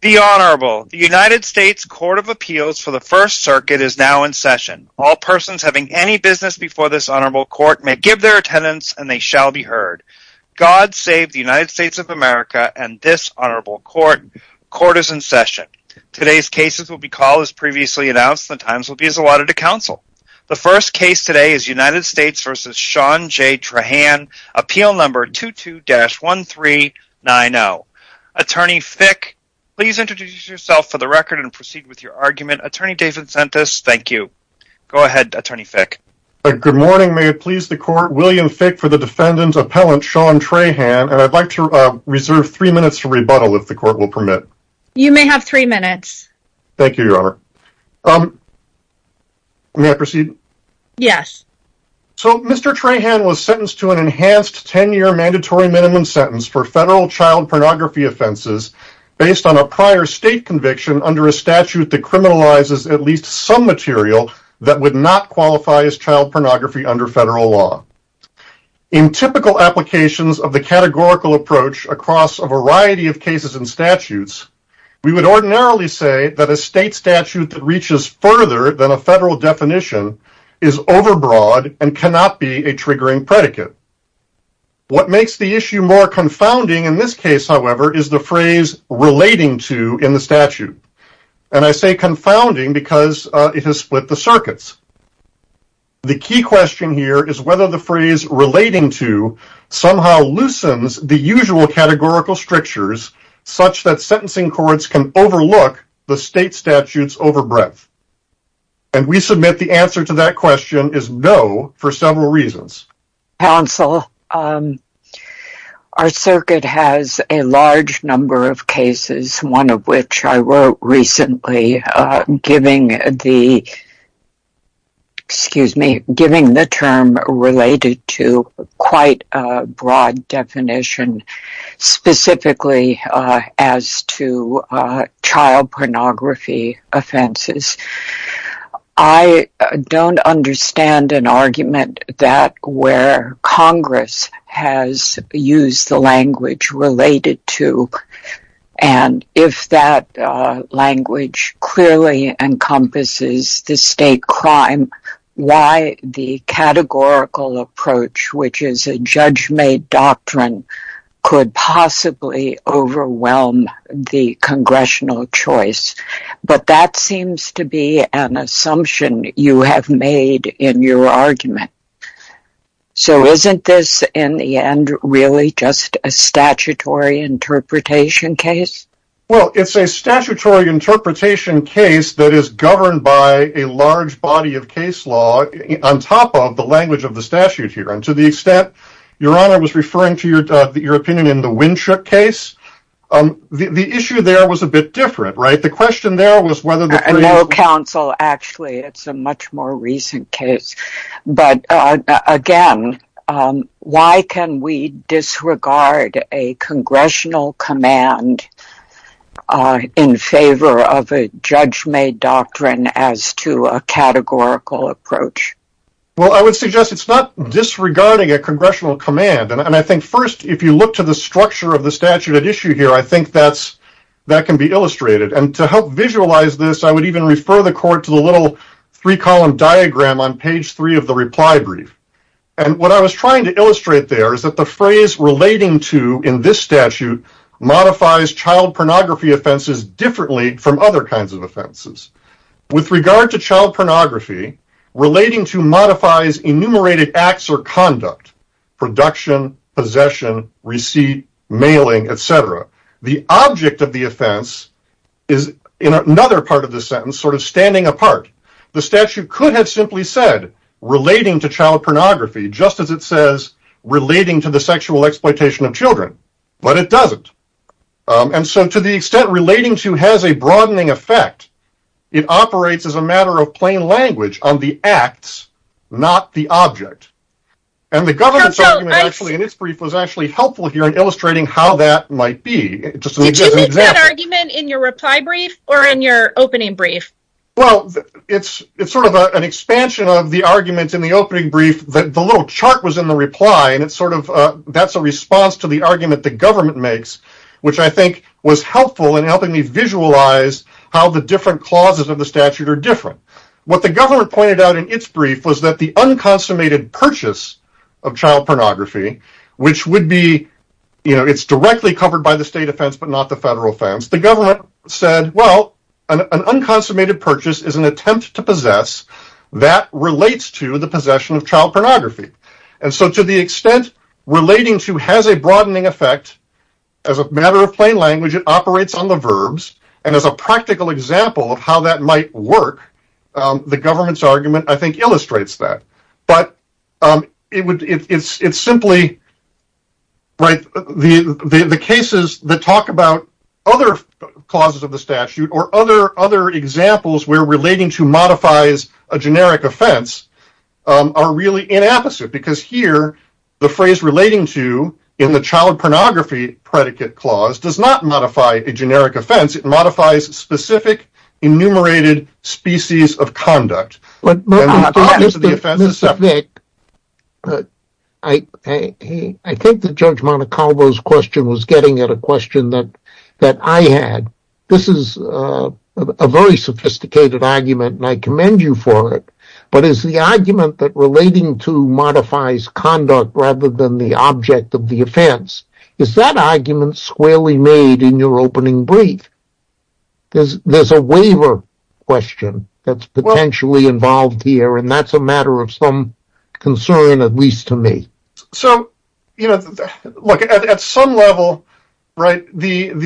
The Honorable. The United States Court of Appeals for the First Circuit is now in session. All persons having any business before this Honorable Court may give their attendance and they shall be heard. God save the United States of America and this Honorable Court. Court is in session. Today's cases will be called as previously announced and the times will be as allotted to counsel. The first case today is United States v. Sean J. Trahan, appeal number 22-1390. Attorney Fick, please introduce yourself for the record and proceed with your argument. Attorney David Sentis, thank you. Go ahead, Attorney Fick. Good morning. May it please the Court, William Fick for the defendant, appellant Sean Trahan, and I'd like to reserve three minutes for rebuttal if the Court will permit. You may have three minutes. Thank you, Your Honor. May I proceed? Yes. So, Mr. Trahan was sentenced to an enhanced 10-year mandatory minimum sentence for federal child pornography offenses based on a prior state conviction under a statute that criminalizes at least some material that would not qualify as child pornography under federal law. In typical applications of the categorical approach across a variety of cases and statutes, we would ordinarily say that a state statute that reaches further than a federal definition is overbroad and cannot be a triggering predicate. What makes the issue more confounding in this case, however, is the phrase relating to in the statute, and I say confounding because it has split the circuits. The key question here is whether the phrase relating to somehow loosens the usual categorical strictures such that sentencing courts can overlook the state statute's overbreadth. And we submit the answer to that question is no for several reasons. Counsel, our circuit has a large number of cases, one of which I wrote recently, giving the term related to quite a broad definition specifically as to child pornography offenses. I don't understand an argument that where Congress has used the language related to And if that language clearly encompasses the state crime, why the categorical approach, which is a judge-made doctrine, could possibly overwhelm the congressional choice. But that seems to be an assumption you have made in your argument. So isn't this, in the end, really just a statutory interpretation case? Well, it's a statutory interpretation case that is governed by a large body of case law on top of the language of the statute here. And to the extent Your Honor was referring to your opinion in the Winshook case, the issue there was a bit different, right? No, Counsel. Actually, it's a much more recent case. But again, why can we disregard a congressional command in favor of a judge-made doctrine as to a categorical approach? Well, I would suggest it's not disregarding a congressional command. And I think first, if you look to the structure of the statute at issue here, I think that can be illustrated. And to help visualize this, I would even refer the court to the little three-column diagram on page three of the reply brief. And what I was trying to illustrate there is that the phrase relating to in this statute modifies child pornography offenses differently from other kinds of offenses. With regard to child pornography, relating to modifies enumerated acts or conduct, production, possession, receipt, mailing, etc. The object of the offense is, in another part of the sentence, sort of standing apart. The statute could have simply said, relating to child pornography, just as it says relating to the sexual exploitation of children. But it doesn't. And so to the extent relating to has a broadening effect, it operates as a matter of plain language on the acts, not the object. And the government's argument in its brief was actually helpful here in illustrating how that might be. Did you make that argument in your reply brief or in your opening brief? Well, it's sort of an expansion of the arguments in the opening brief. The little chart was in the reply, and that's a response to the argument the government makes, which I think was helpful in helping me visualize how the different clauses of the statute are different. What the government pointed out in its brief was that the unconsummated purchase of child pornography, which would be, you know, it's directly covered by the state offense but not the federal offense, the government said, well, an unconsummated purchase is an attempt to possess that relates to the possession of child pornography. And so to the extent relating to has a broadening effect, as a matter of plain language it operates on the verbs, and as a practical example of how that might work, the government's argument I think illustrates that. But it's simply the cases that talk about other clauses of the statute or other examples where relating to modifies a generic offense are really inapposite, because here the phrase relating to in the child pornography predicate clause does not modify a generic offense, it modifies specific enumerated species of conduct. Mr. Fick, I think that Judge Monacovo's question was getting at a question that I had. This is a very sophisticated argument, and I commend you for it, but is the argument that relating to modifies conduct rather than the object of the offense, is that argument squarely made in your opening brief? There's a waiver question that's potentially involved here, and that's a matter of some concern, at least to me. So, you know, look, at some level, right, there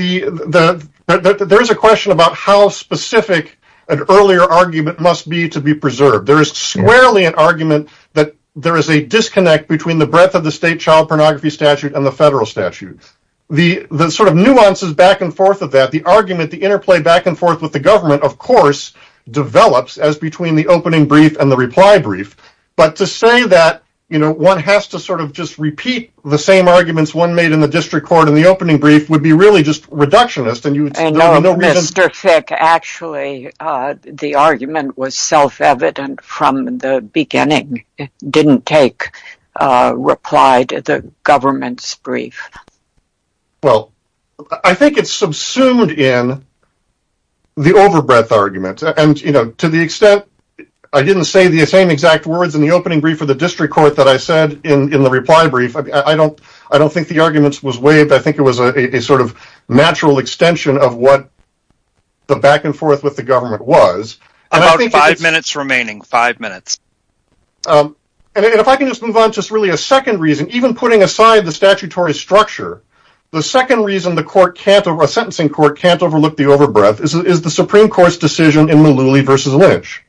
is a question about how specific an earlier argument must be to be preserved. There is squarely an argument that there is a disconnect between the breadth of the state child pornography statute and the federal statute. The sort of nuances back and forth of that, the argument, the interplay back and forth with the government, of course, develops as between the opening brief and the reply brief. But to say that, you know, one has to sort of just repeat the same arguments one made in the district court in the opening brief would be really just reductionist. I know, Mr. Fick, actually the argument was self-evident from the beginning. It didn't take reply to the government's brief. Well, I think it's subsumed in the overbreadth argument. And, you know, to the extent I didn't say the same exact words in the opening brief for the district court that I said in the reply brief, I don't think the argument was waived. I think it was a sort of natural extension of what the back and forth with the government was. About five minutes remaining, five minutes. And if I can just move on to just really a second reason, even putting aside the statutory structure, the second reason a sentencing court can't overlook the overbreadth is the Supreme Court's decision in Malooly v. Lynch.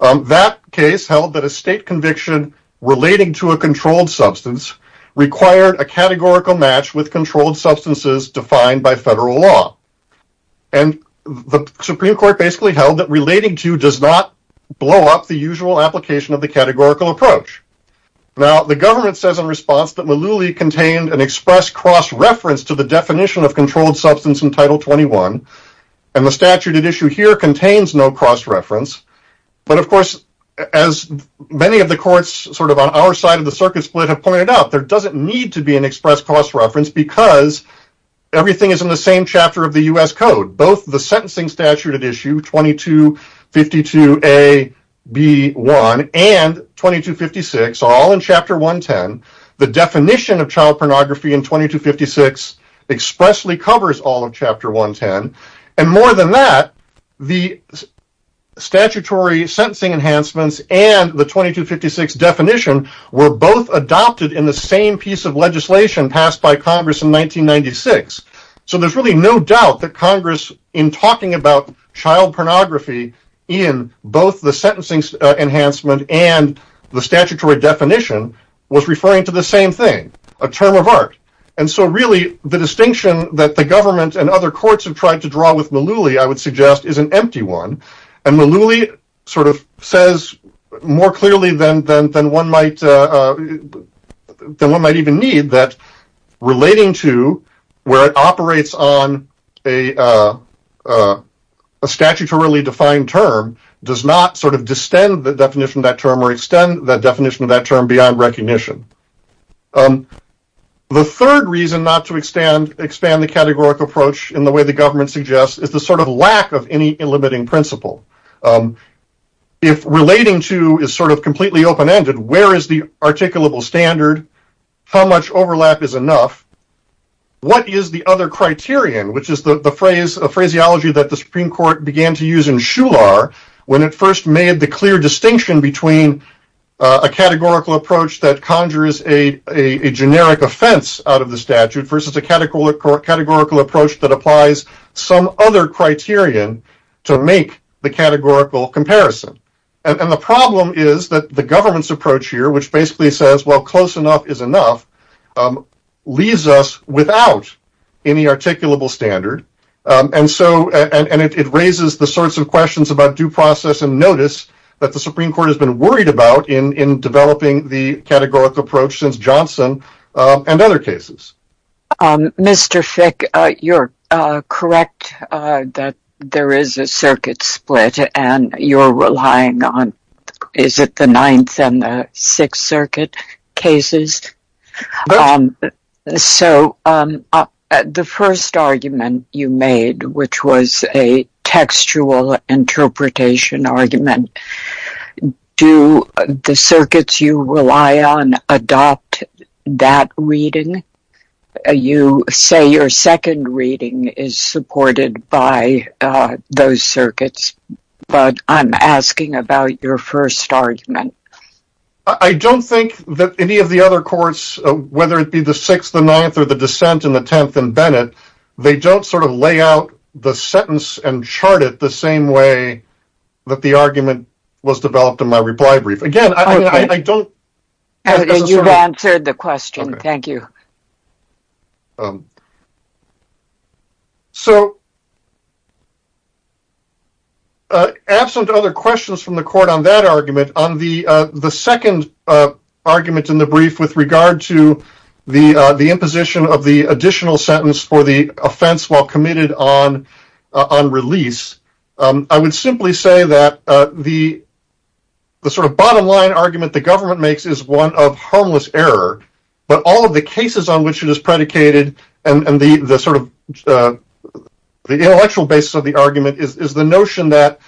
That case held that a state conviction relating to a controlled substance required a categorical match with controlled substances defined by federal law. And the Supreme Court basically held that relating to does not blow up the usual application of the categorical approach. Now, the government says in response that Malooly contained an express cross-reference to the definition of controlled substance in Title 21, and the statute at issue here contains no cross-reference. But, of course, as many of the courts sort of on our side of the circuit split have pointed out, there doesn't need to be an express cross-reference because everything is in the same chapter of the U.S. Code. Both the sentencing statute at issue 2252A.B.1 and 2256 are all in Chapter 110. The definition of child pornography in 2256 expressly covers all of Chapter 110. And more than that, the statutory sentencing enhancements and the 2256 definition were both adopted in the same piece of legislation passed by Congress in 1996. So there's really no doubt that Congress, in talking about child pornography in both the sentencing enhancement and the statutory definition, was referring to the same thing, a term of art. And so really the distinction that the government and other courts have tried to draw with Malooly, I would suggest, is an empty one. And Malooly sort of says more clearly than one might even need that relating to where it operates on a statutorily defined term does not sort of distend the definition of that term or extend the definition of that term beyond recognition. The third reason not to expand the categorical approach in the way the government suggests is the sort of lack of any limiting principle. If relating to is sort of completely open-ended, where is the articulable standard, how much overlap is enough, what is the other criterion, which is the phraseology that the Supreme Court began to use in Shular when it first made the clear distinction between a categorical approach that conjures a generic offense out of the statute versus a categorical approach that applies some other criterion to make the categorical comparison. And the problem is that the government's approach here, which basically says, well, close enough is enough, leaves us without any articulable standard. And it raises the sorts of questions about due process and notice that the Supreme Court has been worried about in developing the categorical approach since Johnson and other cases. Mr. Fick, you're correct that there is a circuit split and you're relying on, is it the Ninth and the Sixth Circuit cases? So the first argument you made, which was a textual interpretation argument, do the circuits you rely on adopt that reading? You say your second reading is supported by those circuits, but I'm asking about your first argument. I don't think that any of the other courts, whether it be the Sixth, the Ninth, or the Dissent, and the Tenth, and Bennett, they don't sort of lay out the sentence and chart it the same way that the argument was developed in my reply brief. Again, I don't... You've answered the question. Thank you. So absent other questions from the court on that argument, on the second argument in the brief with regard to the imposition of the additional sentence for the offense while committed on release, I would simply say that the sort of bottom line argument the government makes is one of harmless error, but all of the cases on which it is predicated and the intellectual basis of the argument is the notion that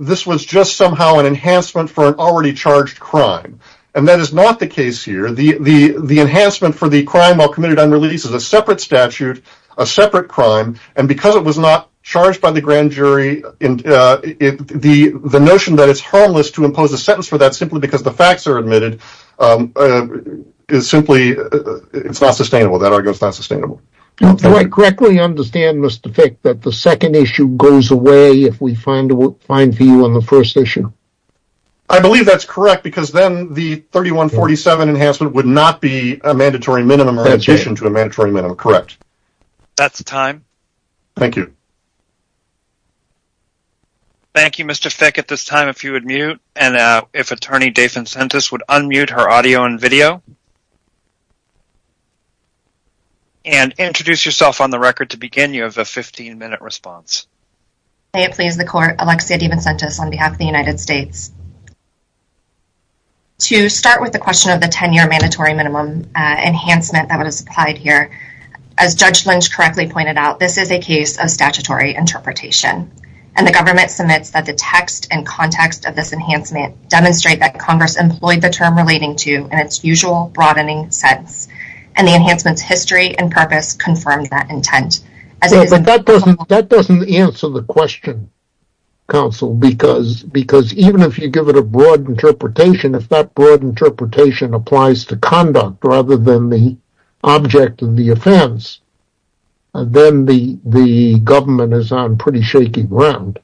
this was just somehow an enhancement for an already charged crime, and that is not the case here. The enhancement for the crime while committed on release is a separate statute, a separate crime, and because it was not charged by the grand jury, the notion that it's harmless to impose a sentence for that simply because the facts are admitted is simply...it's not sustainable. That argument's not sustainable. Do I correctly understand, Mr. Fick, that the second issue goes away if we find a view on the first issue? I believe that's correct because then the 3147 enhancement would not be a mandatory minimum or an addition to a mandatory minimum. Correct. That's time. Thank you. Thank you, Mr. Fick. At this time, if you would mute and if Attorney Dave Vincentis would unmute her audio and video and introduce yourself on the record to begin, you have a 15-minute response. May it please the court, Alexia DeVincentis on behalf of the United States. To start with the question of the 10-year mandatory minimum enhancement that was applied here, as Judge Lynch correctly pointed out, this is a case of statutory interpretation, and the government submits that the text and context of this enhancement demonstrate that Congress employed the term relating to in its usual broadening sense, and the enhancement's history and purpose confirmed that intent. That doesn't answer the question, counsel, because even if you give it a broad interpretation, if that broad interpretation applies to conduct rather than the object of the offense, then the government is on pretty shaky ground.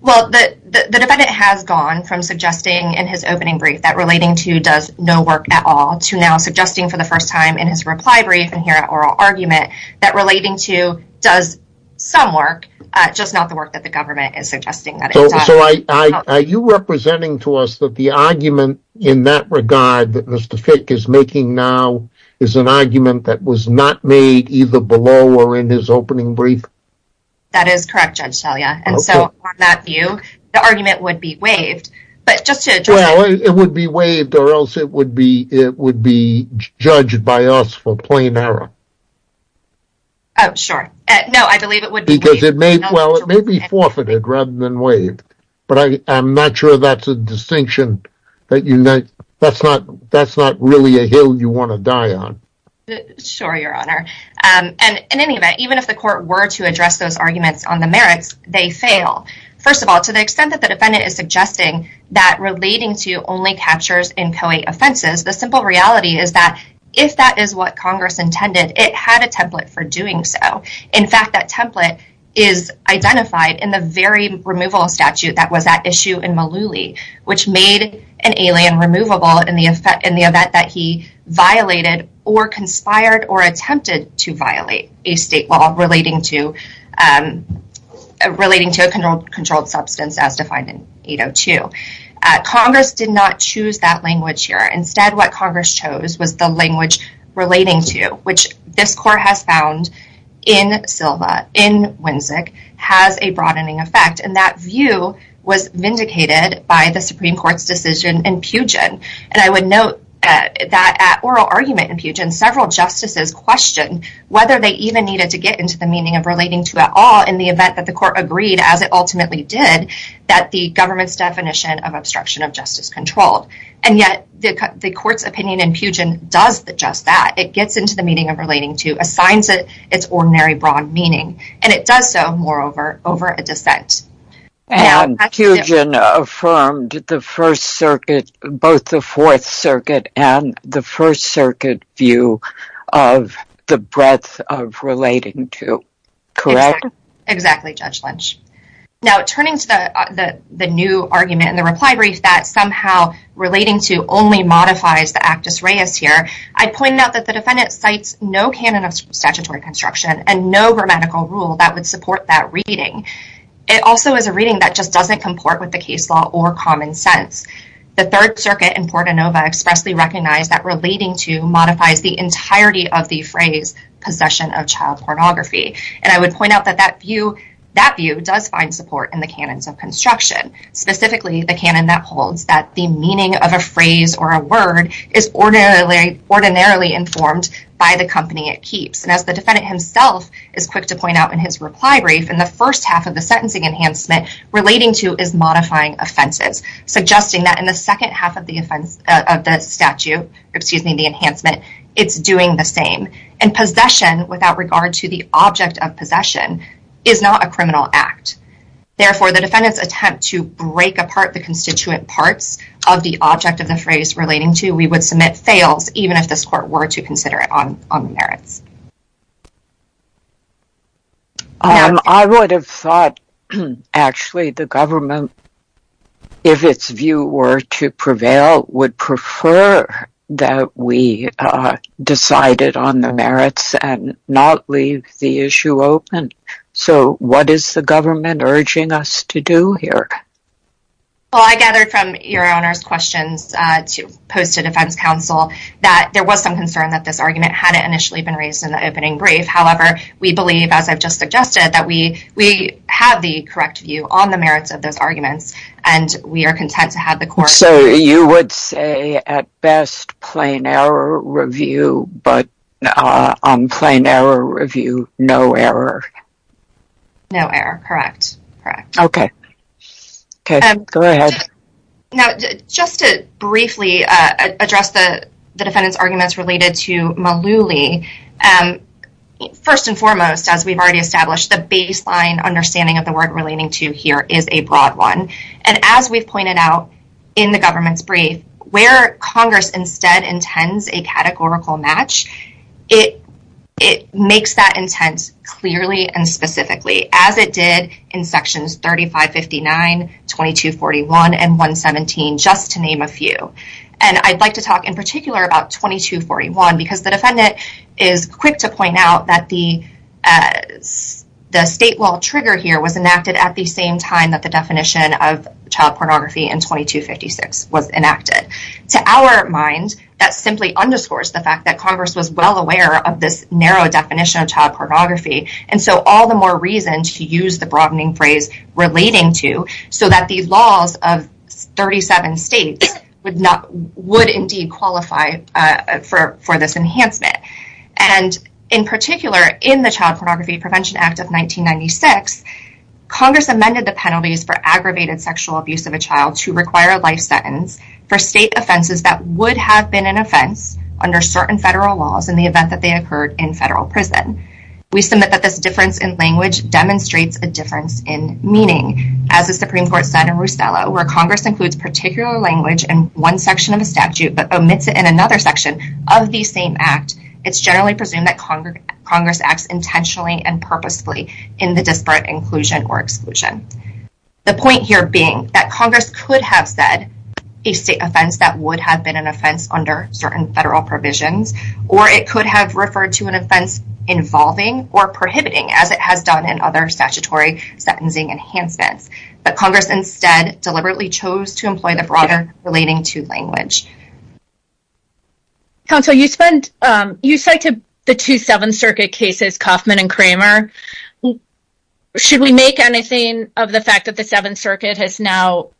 Well, the defendant has gone from suggesting in his opening brief that relating to does no work at all to now suggesting for the first time in his reply brief and here at oral argument that relating to does some work, just not the work that the government is suggesting that it does. So are you representing to us that the argument in that regard that Mr. Fick is making now is an argument that was not made either below or in his opening brief? That is correct, Judge Talia, and so on that view, the argument would be waived. Well, it would be waived or else it would be judged by us for plain error. Oh, sure. No, I believe it would be waived. Well, it may be forfeited rather than waived, but I'm not sure that's a distinction that you make. That's not really a hill you want to die on. Sure, Your Honor, and in any event, even if the court were to address those arguments on the merits, they fail. First of all, to the extent that the defendant is suggesting that relating to only captures inchoate offenses, the simple reality is that if that is what Congress intended, it had a template for doing so. In fact, that template is identified in the very removal statute that was at issue in Mullooly, which made an alien removable in the event that he violated or conspired or attempted to violate a state law relating to a controlled substance as defined in 802. Congress did not choose that language here. In Winsic has a broadening effect, and that view was vindicated by the Supreme Court's decision in Pugin. And I would note that at oral argument in Pugin, several justices questioned whether they even needed to get into the meaning of relating to at all in the event that the court agreed, as it ultimately did, that the government's definition of obstruction of justice controlled. And yet the court's opinion in Pugin does just that. It gets into the meaning of relating to, assigns it its ordinary broad meaning. And it does so, moreover, over a dissent. And Pugin affirmed both the Fourth Circuit and the First Circuit view of the breadth of relating to, correct? Exactly, Judge Lynch. Now, turning to the new argument in the reply brief that somehow relating to only modifies the actus reus here, I pointed out that the defendant cites no canon of statutory construction and no grammatical rule that would support that reading. It also is a reading that just doesn't comport with the case law or common sense. The Third Circuit in Portanova expressly recognized that relating to modifies the entirety of the phrase possession of child pornography. And I would point out that that view does find support in the canons of construction, specifically the canon that holds that the meaning of a phrase or a word is ordinarily informed by the company it keeps. And as the defendant himself is quick to point out in his reply brief, in the first half of the sentencing enhancement, relating to is modifying offenses, suggesting that in the second half of the statute, excuse me, the enhancement, it's doing the same. And possession, without regard to the object of possession, is not a criminal act. Therefore, the defendant's attempt to break apart the constituent parts of the object of the phrase relating to we would submit fails, even if this court were to consider it on the merits. I would have thought, actually, the government, if its view were to prevail, would prefer that we decided on the merits and not leave the issue open. So what is the government urging us to do here? Well, I gathered from your Honor's questions to post to defense counsel that there was some concern that this argument hadn't initially been raised in the opening brief. However, we believe, as I've just suggested, that we have the correct view on the merits of those arguments, and we are content to have the court. So you would say, at best, plain error review, but on plain error review, no error? No error, correct. Okay. Go ahead. Now, just to briefly address the defendant's arguments related to Malouly, first and foremost, as we've already established, the baseline understanding of the word relating to here is a broad one. And as we've pointed out in the government's brief, where Congress instead intends a categorical match, it makes that intent clearly and specifically, as it did in Sections 3559, 2241, and 117, just to name a few. And I'd like to talk in particular about 2241, because the defendant is quick to point out that the state law trigger here was enacted at the same time that the definition of child pornography in 2256 was enacted. To our mind, that simply underscores the fact that Congress was well aware of this narrow definition of child pornography. And so all the more reason to use the broadening phrase relating to, so that these laws of 37 states would indeed qualify for this enhancement. And in particular, in the Child Pornography Prevention Act of 1996, Congress amended the penalties for aggravated sexual abuse of a child to require a life sentence for state offenses that would have been an offense under certain federal laws in the event that they occurred in federal prison. We submit that this difference in language demonstrates a difference in meaning. As the Supreme Court said in Rusella, where Congress includes particular language in one section of a statute but omits it in another section of the same act, it's generally presumed that Congress acts intentionally and purposefully in the disparate inclusion or exclusion. The point here being that Congress could have said a state offense that would have been an offense under certain federal provisions, or it could have referred to an offense involving or prohibiting, as it has done in other statutory sentencing enhancements. But Congress instead deliberately chose to employ the broader relating to language. Counsel, you cited the two Seventh Circuit cases, Kauffman and Kramer. Should we make anything of the fact that the Seventh Circuit has now,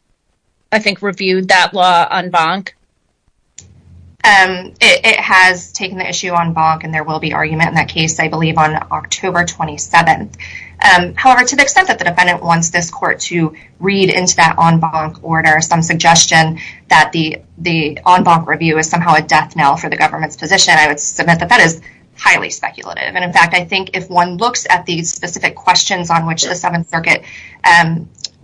I think, reviewed that law en banc? It has taken the issue en banc, and there will be argument in that case, I believe, on October 27th. However, to the extent that the defendant wants this court to read into that en banc order some suggestion that the en banc review is somehow a death knell for the government's position, I would submit that that is highly speculative. In fact, I think if one looks at the specific questions on which the Seventh Circuit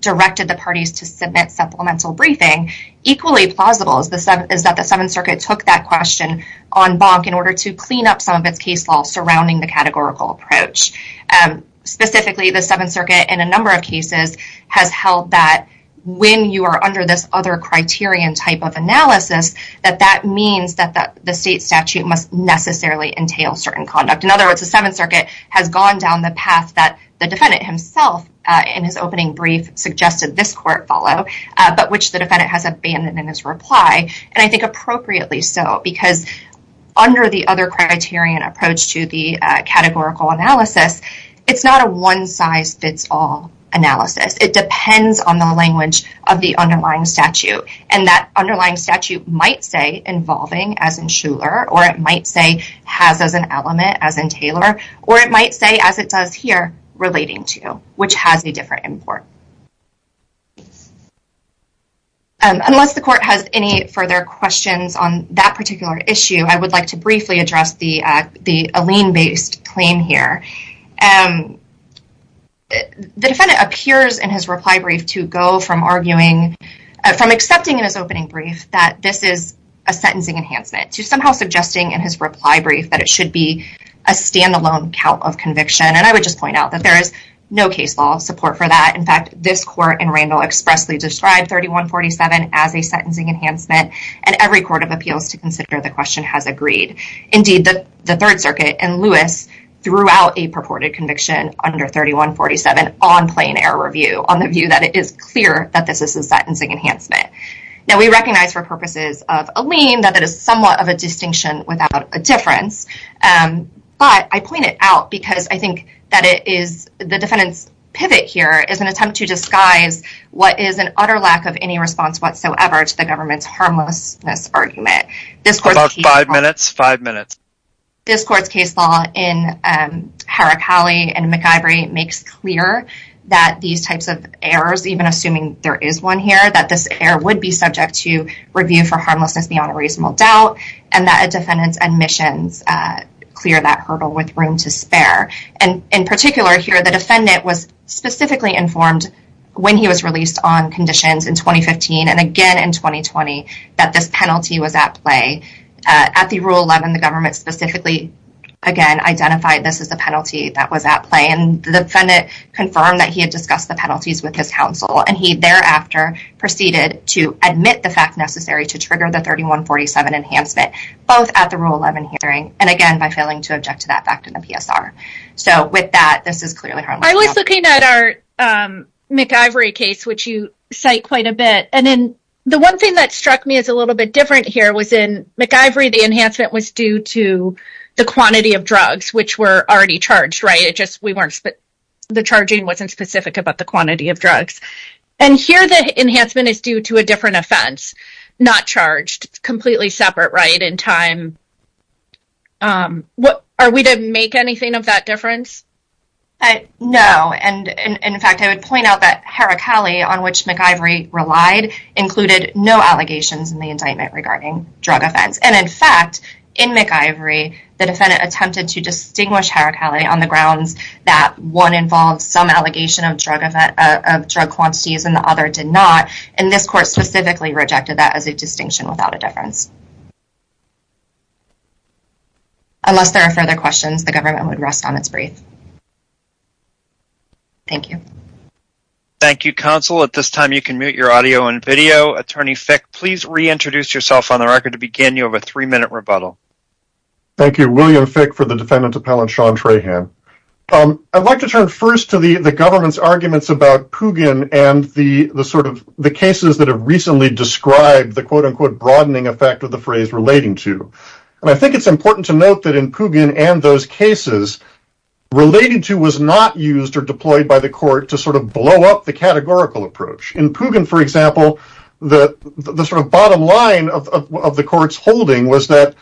directed the parties to submit supplemental briefing, equally plausible is that the Seventh Circuit took that question en banc in order to clean up some of its case law surrounding the categorical approach. Specifically, the Seventh Circuit, in a number of cases, has held that when you are under this other criterion type of analysis, that that means that the state statute must necessarily entail certain conduct. In other words, the Seventh Circuit has gone down the path that the defendant himself, in his opening brief, suggested this court follow, but which the defendant has abandoned in his reply. And I think appropriately so, because under the other criterion approach to the categorical analysis, it's not a one-size-fits-all analysis. It depends on the language of the underlying statute. And that underlying statute might say involving, as in Shuler, or it might say has as an element, as in Taylor, or it might say, as it does here, relating to, which has a different import. Unless the court has any further questions on that particular issue, I would like to briefly address the Allene-based claim here. The defendant appears in his reply brief to go from arguing, from accepting in his opening brief that this is a sentencing enhancement, to somehow suggesting in his reply brief that it should be a standalone count of conviction. And I would just point out that there is no case law support for that. In fact, this court in Randall expressly described 3147 as a sentencing enhancement, and every court of appeals to consider the question has agreed. Indeed, the Third Circuit and Lewis threw out a purported conviction under 3147 on plain error review, on the view that it is clear that this is a sentencing enhancement. Now, we recognize for purposes of Allene that it is somewhat of a distinction without a difference. But I point it out because I think that it is, the defendant's pivot here is an attempt to disguise what is an utter lack of any response whatsoever to the government's harmlessness argument. About five minutes, five minutes. This court's case law in Harakali and McIvory makes clear that these types of errors, even assuming there is one here, that this error would be subject to review for harmlessness beyond a reasonable doubt, and that a defendant's admissions clear that hurdle with room to spare. And in particular here, the defendant was specifically informed when he was released on conditions in 2015, and again in 2020, that this penalty was at play. At the Rule 11, the government specifically, again, identified this as a penalty that was at play, and the defendant confirmed that he had discussed the penalties with his counsel, and he thereafter proceeded to admit the fact necessary to trigger the 3147 enhancement, both at the Rule 11 hearing, and again by failing to object to that fact in the PSR. So with that, this is clearly harmless. I was looking at our McIvory case, which you cite quite a bit, and then the one thing that struck me as a little bit different here was in McIvory, the enhancement was due to the quantity of drugs which were already charged, right? The charging wasn't specific about the quantity of drugs. And here, the enhancement is due to a different offense, not charged. It's completely separate, right, in time. Are we to make anything of that difference? No, and in fact, I would point out that Heracalli, on which McIvory relied, included no allegations in the indictment regarding drug offense. And in fact, in McIvory, the defendant attempted to distinguish Heracalli on the grounds that one involved some allegation of drug quantities and the other did not, and this court specifically rejected that as a distinction without a difference. Unless there are further questions, the government would rest on its brief. Thank you. Thank you, counsel. At this time, you can mute your audio and video. Attorney Fick, please reintroduce yourself on the record to begin. You have a three-minute rebuttal. Thank you. William Fick for the defendant appellant, Sean Trahan. I'd like to turn first to the government's arguments about Pugin and the sort of cases that have recently described the quote-unquote broadening effect of the phrase relating to. And I think it's important to note that in Pugin and those cases, relating to was not used or deployed by the court to sort of blow up the categorical approach. In Pugin, for example, the sort of bottom line of the court's holding was that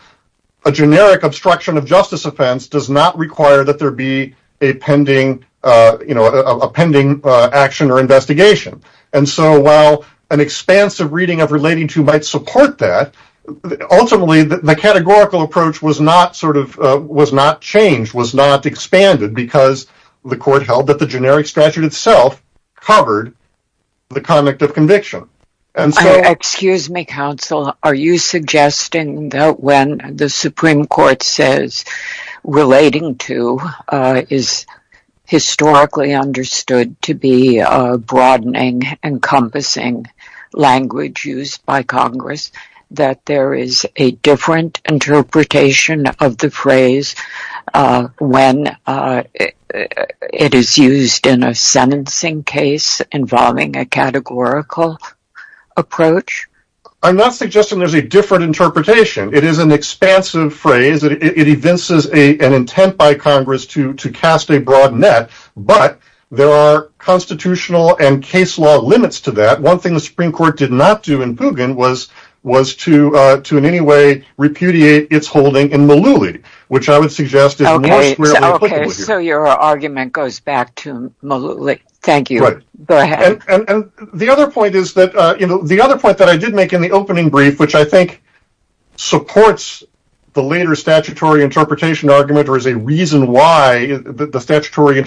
a generic obstruction of justice offense does not require that there be a pending action or investigation. And so while an expansive reading of relating to might support that, ultimately the categorical approach was not changed, was not expanded, because the court held that the generic statute itself covered the conduct of conviction. Excuse me, counsel. Are you suggesting that when the Supreme Court says relating to is historically understood to be broadening, encompassing language used by Congress, that there is a different interpretation of the phrase when it is used in a sentencing case involving a categorical approach? I'm not suggesting there's a different interpretation. It is an expansive phrase. It evinces an intent by Congress to cast a broad net. But there are constitutional and case law limits to that. One thing the Supreme Court did not do in Pugin was to in any way repudiate its holding in Malouli, which I would suggest is more squarely applicable here. Okay, so your argument goes back to Malouli. Thank you. Go ahead. And the other point that I did make in the opening brief, which I think supports the later statutory interpretation argument or is a reason why the statutory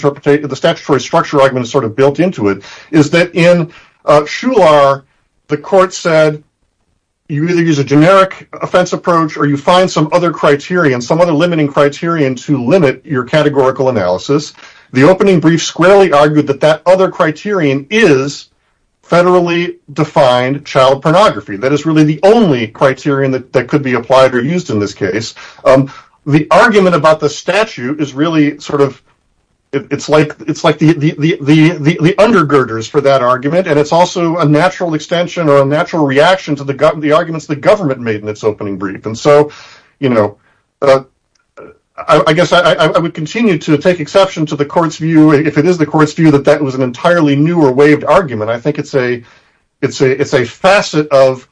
structure argument is sort of built into it, is that in Shular the court said you either use a generic offense approach or you find some other criterion, some other limiting criterion to limit your categorical analysis. The opening brief squarely argued that that other criterion is federally defined child pornography. That is really the only criterion that could be applied or used in this case. The argument about the statute is really sort of, it's like the undergirders for that argument, and it's also a natural extension or a natural reaction to the arguments the government made in its opening brief. And so, you know, I guess I would continue to take exception to the court's view, if it is the court's view, that that was an entirely new or waived argument. I think it's a facet of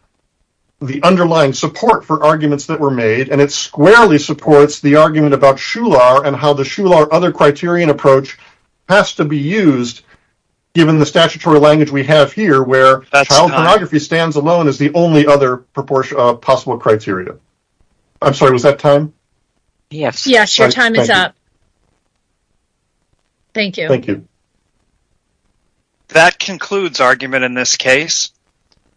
the underlying support for arguments that were made, and it squarely supports the argument about Shular and how the Shular other criterion approach has to be used, given the statutory language we have here where child pornography stands alone as the only other possible criteria. I'm sorry, was that time? Yes. Yes, your time is up. Thank you. Thank you. That concludes argument in this case.